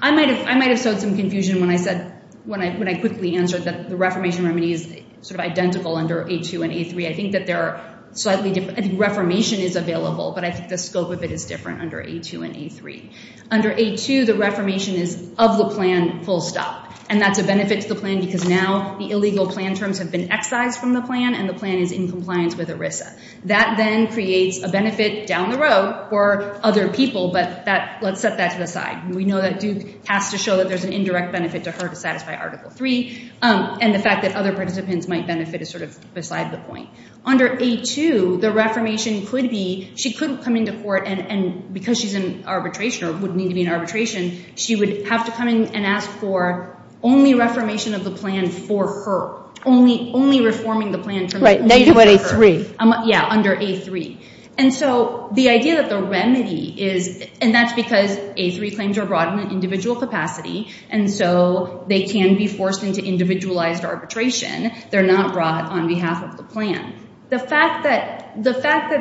I might have sowed some confusion when I said, when I quickly answered that the reformation remedy is sort of identical under A2 and A3. I think that they're slightly different. I think reformation is available, but I think the scope of it is different under A2 and A3. Under A2, the reformation is of the plan, full stop, and that's a benefit to the plan because now the illegal plan terms have been excised from the plan, and the plan is in compliance with ERISA. That then creates a benefit down the road for other people, but let's set that to the side. We know that Duke has to show that there's an indirect benefit to her to satisfy Article III, and the fact that other participants might benefit is sort of beside the point. Under A2, the reformation could be she couldn't come into court, and because she's in arbitration or would need to be in arbitration, she would have to come in and ask for only reformation of the plan for her, only reforming the plan for her. Right, negative on A3. Yeah, under A3. And so the idea that the remedy is, and that's because A3 claims are brought in an individual capacity, and so they can be forced into individualized arbitration. They're not brought on behalf of the plan. The fact that ERISA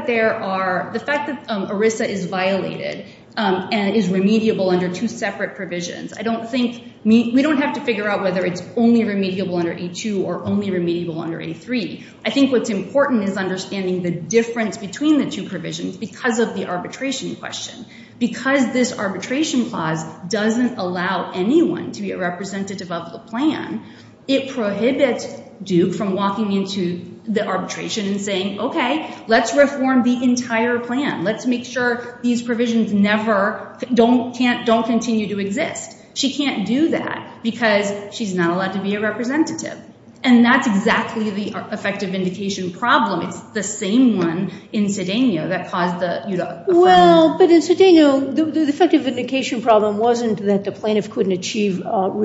is violated and is remediable under two separate provisions, we don't have to figure out whether it's only remediable under A2 or only remediable under A3. I think what's important is understanding the difference between the two provisions because of the arbitration question. Because this arbitration clause doesn't allow anyone to be a representative of the plan, it prohibits Duke from walking into the arbitration and saying, okay, let's reform the entire plan. Let's make sure these provisions never don't continue to exist. She can't do that because she's not allowed to be a representative, and that's exactly the effective vindication problem. It's the same one in Cedeno that caused the UDOC offense. Well, but in Cedeno, the effective vindication problem wasn't that the plaintiff couldn't achieve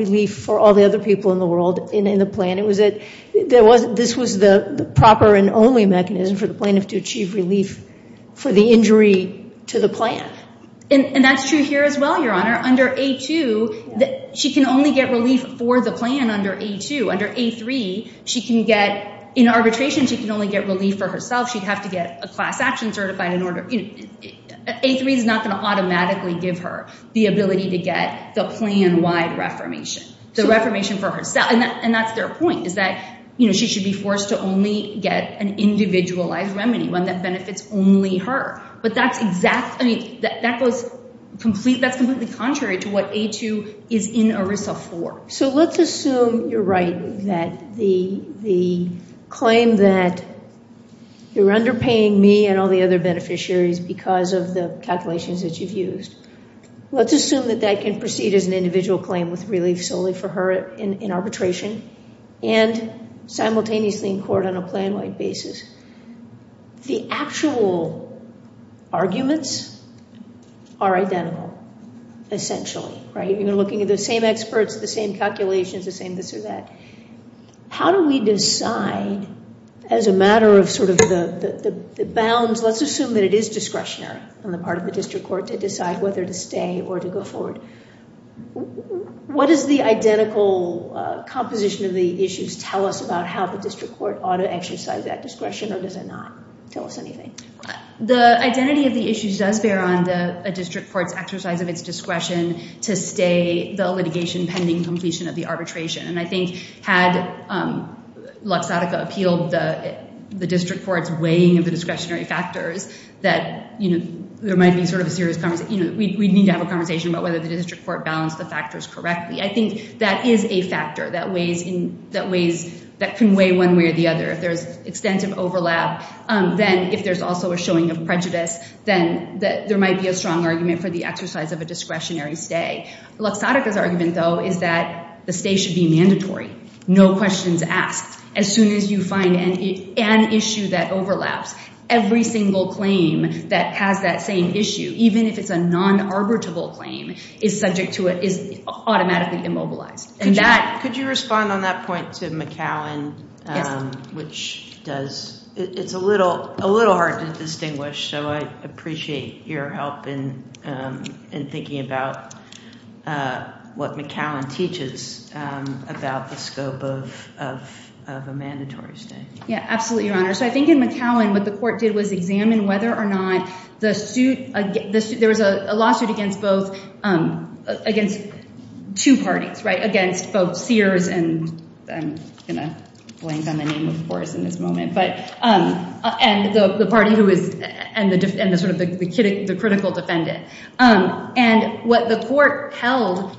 relief for all the other people in the world in the plan. It was that this was the proper and only mechanism for the plaintiff to achieve relief for the injury to the plan. And that's true here as well, Your Honor. Under A2, she can only get relief for the plan under A2. Under A3, in arbitration, she can only get relief for herself. She'd have to get a class action certified in order. A3 is not going to automatically give her the ability to get the plan-wide reformation, the reformation for herself. And that's their point is that she should be forced to only get an individualized remedy, one that benefits only her. I mean, that's completely contrary to what A2 is in ERISA for. So let's assume you're right that the claim that you're underpaying me and all the other beneficiaries because of the calculations that you've used, let's assume that that can proceed as an individual claim with relief solely for her in arbitration and simultaneously in court on a plan-wide basis. The actual arguments are identical essentially, right? You're looking at the same experts, the same calculations, the same this or that. How do we decide as a matter of sort of the bounds? Let's assume that it is discretionary on the part of the district court to decide whether to stay or to go forward. What does the identical composition of the issues tell us about how the district court ought to exercise that discretion or does it not tell us anything? The identity of the issues does bear on a district court's exercise of its discretion to stay the litigation pending completion of the arbitration. And I think had Luxottica appealed the district court's weighing of the discretionary factors that there might be sort of a serious conversation. We need to have a conversation about whether the district court balanced the factors correctly. I think that is a factor that weighs in ways that can weigh one way or the other. If there's extensive overlap, then if there's also a showing of prejudice, then there might be a strong argument for the exercise of a discretionary stay. Luxottica's argument though is that the stay should be mandatory. No questions asked. As soon as you find an issue that overlaps, every single claim that has that same issue, even if it's a non-arbitral claim, is subject to it, is automatically immobilized. Could you respond on that point to McAllen? It's a little hard to distinguish, so I appreciate your help in thinking about what McAllen teaches about the scope of a mandatory stay. Yeah, absolutely, Your Honor. So I think in McAllen, what the court did was examine whether or not there was a lawsuit against two parties, right? Against both Sears, and I'm going to blank on the name, of course, in this moment, and the critical defendant. And what the court held,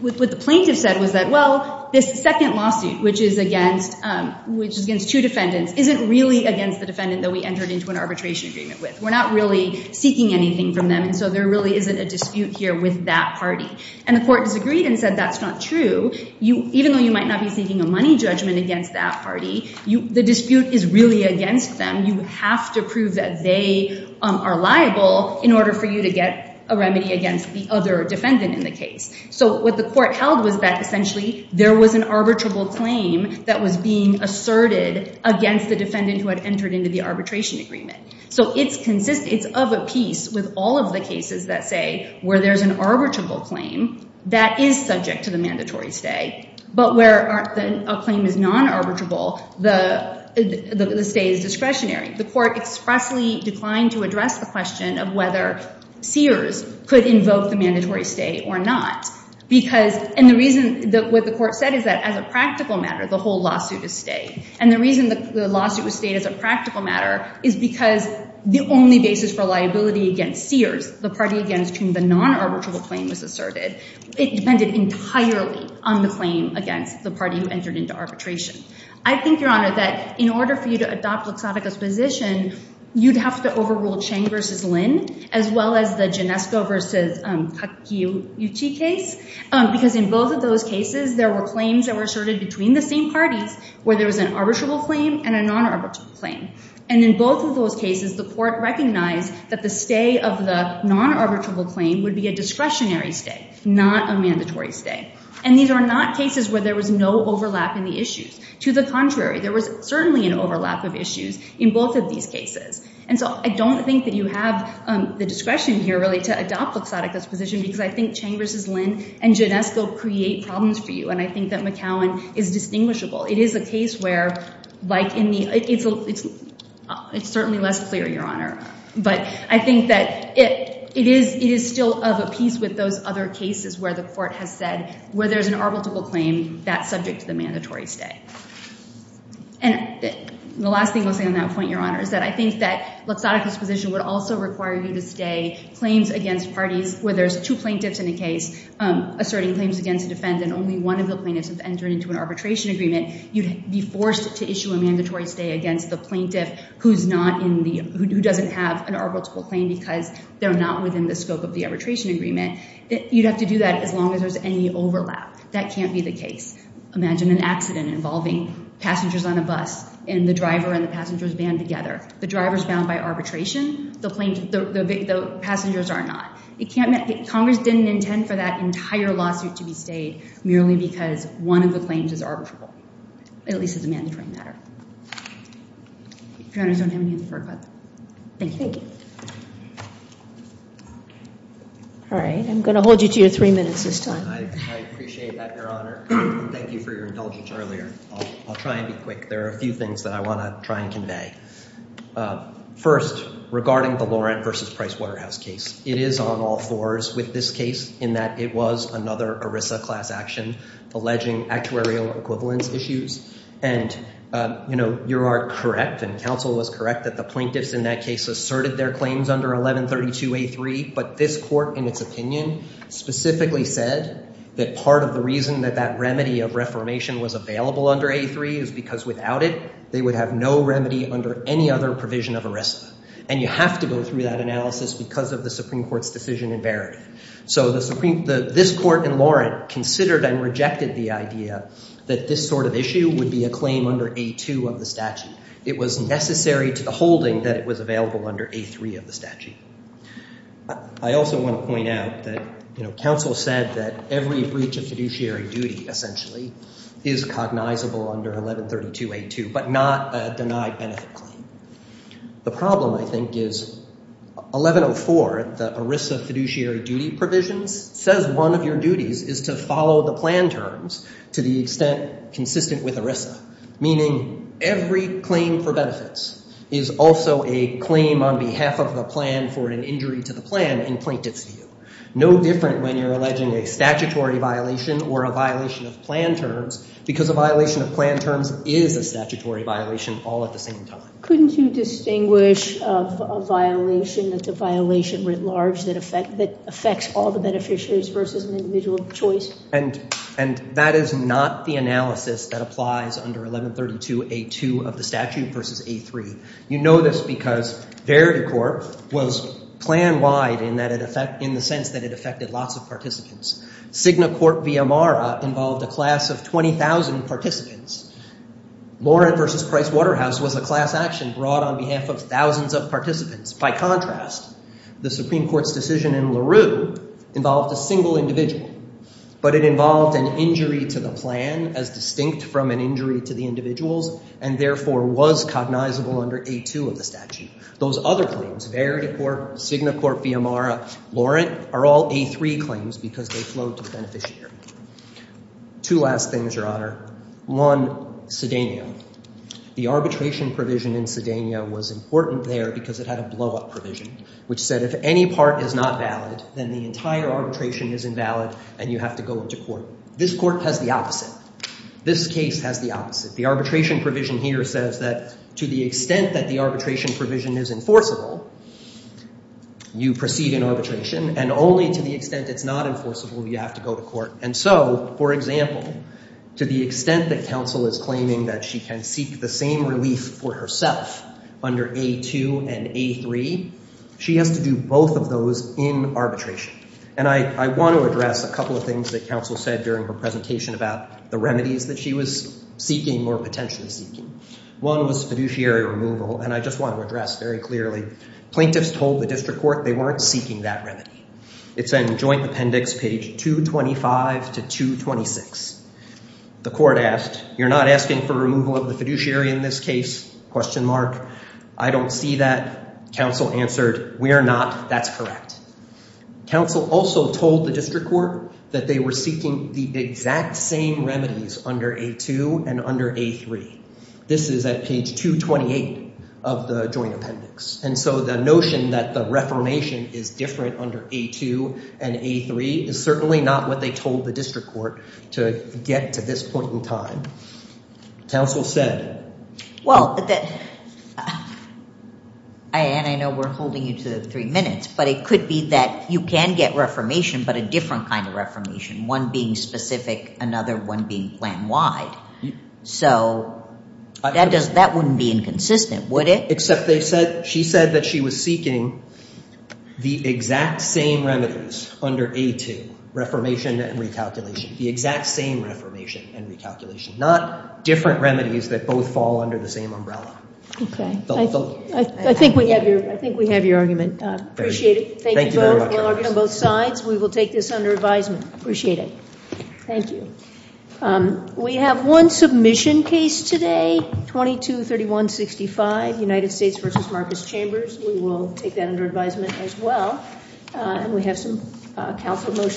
what the plaintiff said was that, well, this second lawsuit, which is against two defendants, isn't really against the defendant that we entered into an arbitration agreement with. We're not really seeking anything from them, and so there really isn't a dispute here with that party. And the court disagreed and said that's not true. Even though you might not be seeking a money judgment against that party, the dispute is really against them. And you have to prove that they are liable in order for you to get a remedy against the other defendant in the case. So what the court held was that, essentially, there was an arbitrable claim that was being asserted against the defendant who had entered into the arbitration agreement. So it's of a piece with all of the cases that say where there's an arbitrable claim, that is subject to the mandatory stay. But where a claim is non-arbitrable, the stay is discretionary. The court expressly declined to address the question of whether Sears could invoke the mandatory stay or not. And the reason what the court said is that, as a practical matter, the whole lawsuit is stayed. And the reason the lawsuit was stayed as a practical matter is because the only basis for liability against Sears, the party against whom the non-arbitrable claim was asserted, it depended entirely on the claim against the party who entered into arbitration. I think, Your Honor, that in order for you to adopt Luxavica's position, you'd have to overrule Chang v. Lynn, as well as the Ginesco v. Kakiuchi case, because in both of those cases, there were claims that were asserted between the same parties where there was an arbitrable claim and a non-arbitrable claim. And in both of those cases, the court recognized that the stay of the non-arbitrable claim would be a discretionary stay, not a mandatory stay. And these are not cases where there was no overlap in the issues. To the contrary, there was certainly an overlap of issues in both of these cases. And so I don't think that you have the discretion here, really, to adopt Luxavica's position, because I think Chang v. Lynn and Ginesco create problems for you. And I think that McCowan is distinguishable. It is a case where, like in the—it's certainly less clear, Your Honor. But I think that it is still of a piece with those other cases where the court has said, where there's an arbitrable claim, that's subject to the mandatory stay. And the last thing I'll say on that point, Your Honor, is that I think that Luxavica's position would also require you to stay claims against parties where there's two plaintiffs in a case asserting claims against a defendant, and only one of the plaintiffs has entered into an arbitration agreement. You'd be forced to issue a mandatory stay against the plaintiff who's not in the— who doesn't have an arbitrable claim because they're not within the scope of the arbitration agreement. You'd have to do that as long as there's any overlap. That can't be the case. Imagine an accident involving passengers on a bus, and the driver and the passengers band together. The driver's bound by arbitration. The passengers are not. It can't—Congress didn't intend for that entire lawsuit to be stayed merely because one of the claims is arbitrable, at least as a mandatory matter. If Your Honors don't have anything further, thank you. Thank you. All right, I'm going to hold you to your three minutes this time. I appreciate that, Your Honor, and thank you for your indulgence earlier. I'll try and be quick. There are a few things that I want to try and convey. First, regarding the Laurent v. Price Waterhouse case, it is on all fours with this case in that it was another ERISA class action alleging actuarial equivalence issues. And, you know, you are correct, and counsel was correct, that the plaintiffs in that case asserted their claims under 1132A3, but this court, in its opinion, specifically said that part of the reason that that remedy of reformation was available under A3 is because without it, they would have no remedy under any other provision of ERISA. And you have to go through that analysis because of the Supreme Court's decision in Verity. So this court in Laurent considered and rejected the idea that this sort of issue would be a claim under A2 of the statute. It was necessary to the holding that it was available under A3 of the statute. I also want to point out that, you know, counsel said that every breach of fiduciary duty, essentially, is cognizable under 1132A2, but not a denied benefit claim. The problem, I think, is 1104, the ERISA fiduciary duty provisions, says one of your duties is to follow the plan terms to the extent consistent with ERISA, meaning every claim for benefits is also a claim on behalf of the plan for an injury to the plan in plaintiff's view. No different when you're alleging a statutory violation or a violation of plan terms because a violation of plan terms is a statutory violation all at the same time. Couldn't you distinguish a violation that's a violation writ large that affects all the beneficiaries versus an individual of choice? And that is not the analysis that applies under 1132A2 of the statute versus A3. You know this because Verity Court was plan-wide in the sense that it affected lots of participants. Cigna Court v. Amara involved a class of 20,000 participants. Laurent v. Price Waterhouse was a class action brought on behalf of thousands of participants. By contrast, the Supreme Court's decision in LaRue involved a single individual, but it involved an injury to the plan as distinct from an injury to the individuals and therefore was cognizable under A2 of the statute. Those other claims, Verity Court, Cigna Court v. Amara, Laurent, are all A3 claims because they flowed to the beneficiary. Two last things, Your Honor. One, Cedena. The arbitration provision in Cedena was important there because it had a blow-up provision which said if any part is not valid, then the entire arbitration is invalid and you have to go into court. This court has the opposite. This case has the opposite. The arbitration provision here says that to the extent that the arbitration provision is enforceable, you proceed in arbitration, and only to the extent it's not enforceable, you have to go to court. And so, for example, to the extent that counsel is claiming that she can seek the same relief for herself under A2 and A3, she has to do both of those in arbitration. And I want to address a couple of things that counsel said during her presentation about the remedies that she was seeking or potentially seeking. One was fiduciary removal, and I just want to address very clearly. Plaintiffs told the district court they weren't seeking that remedy. It's in joint appendix page 225 to 226. The court asked, you're not asking for removal of the fiduciary in this case? I don't see that. Counsel answered, we are not. That's correct. Counsel also told the district court that they were seeking the exact same remedies under A2 and under A3. This is at page 228 of the joint appendix. And so the notion that the reformation is different under A2 and A3 is certainly not what they told the district court to get to this point in time. Counsel said. Well, Anne, I know we're holding you to three minutes, but it could be that you can get reformation but a different kind of reformation, one being specific, another one being plan-wide. So that wouldn't be inconsistent, would it? Except she said that she was seeking the exact same remedies under A2, reformation and recalculation, the exact same reformation and recalculation, not different remedies that both fall under the same umbrella. I think we have your argument. Appreciate it. Thank you both. We'll argue on both sides. We will take this under advisement. Appreciate it. Thank you. We have one submission case today, 2231-65, United States v. Marcus Chambers. We will take that under advisement as well. And we have some counsel motions.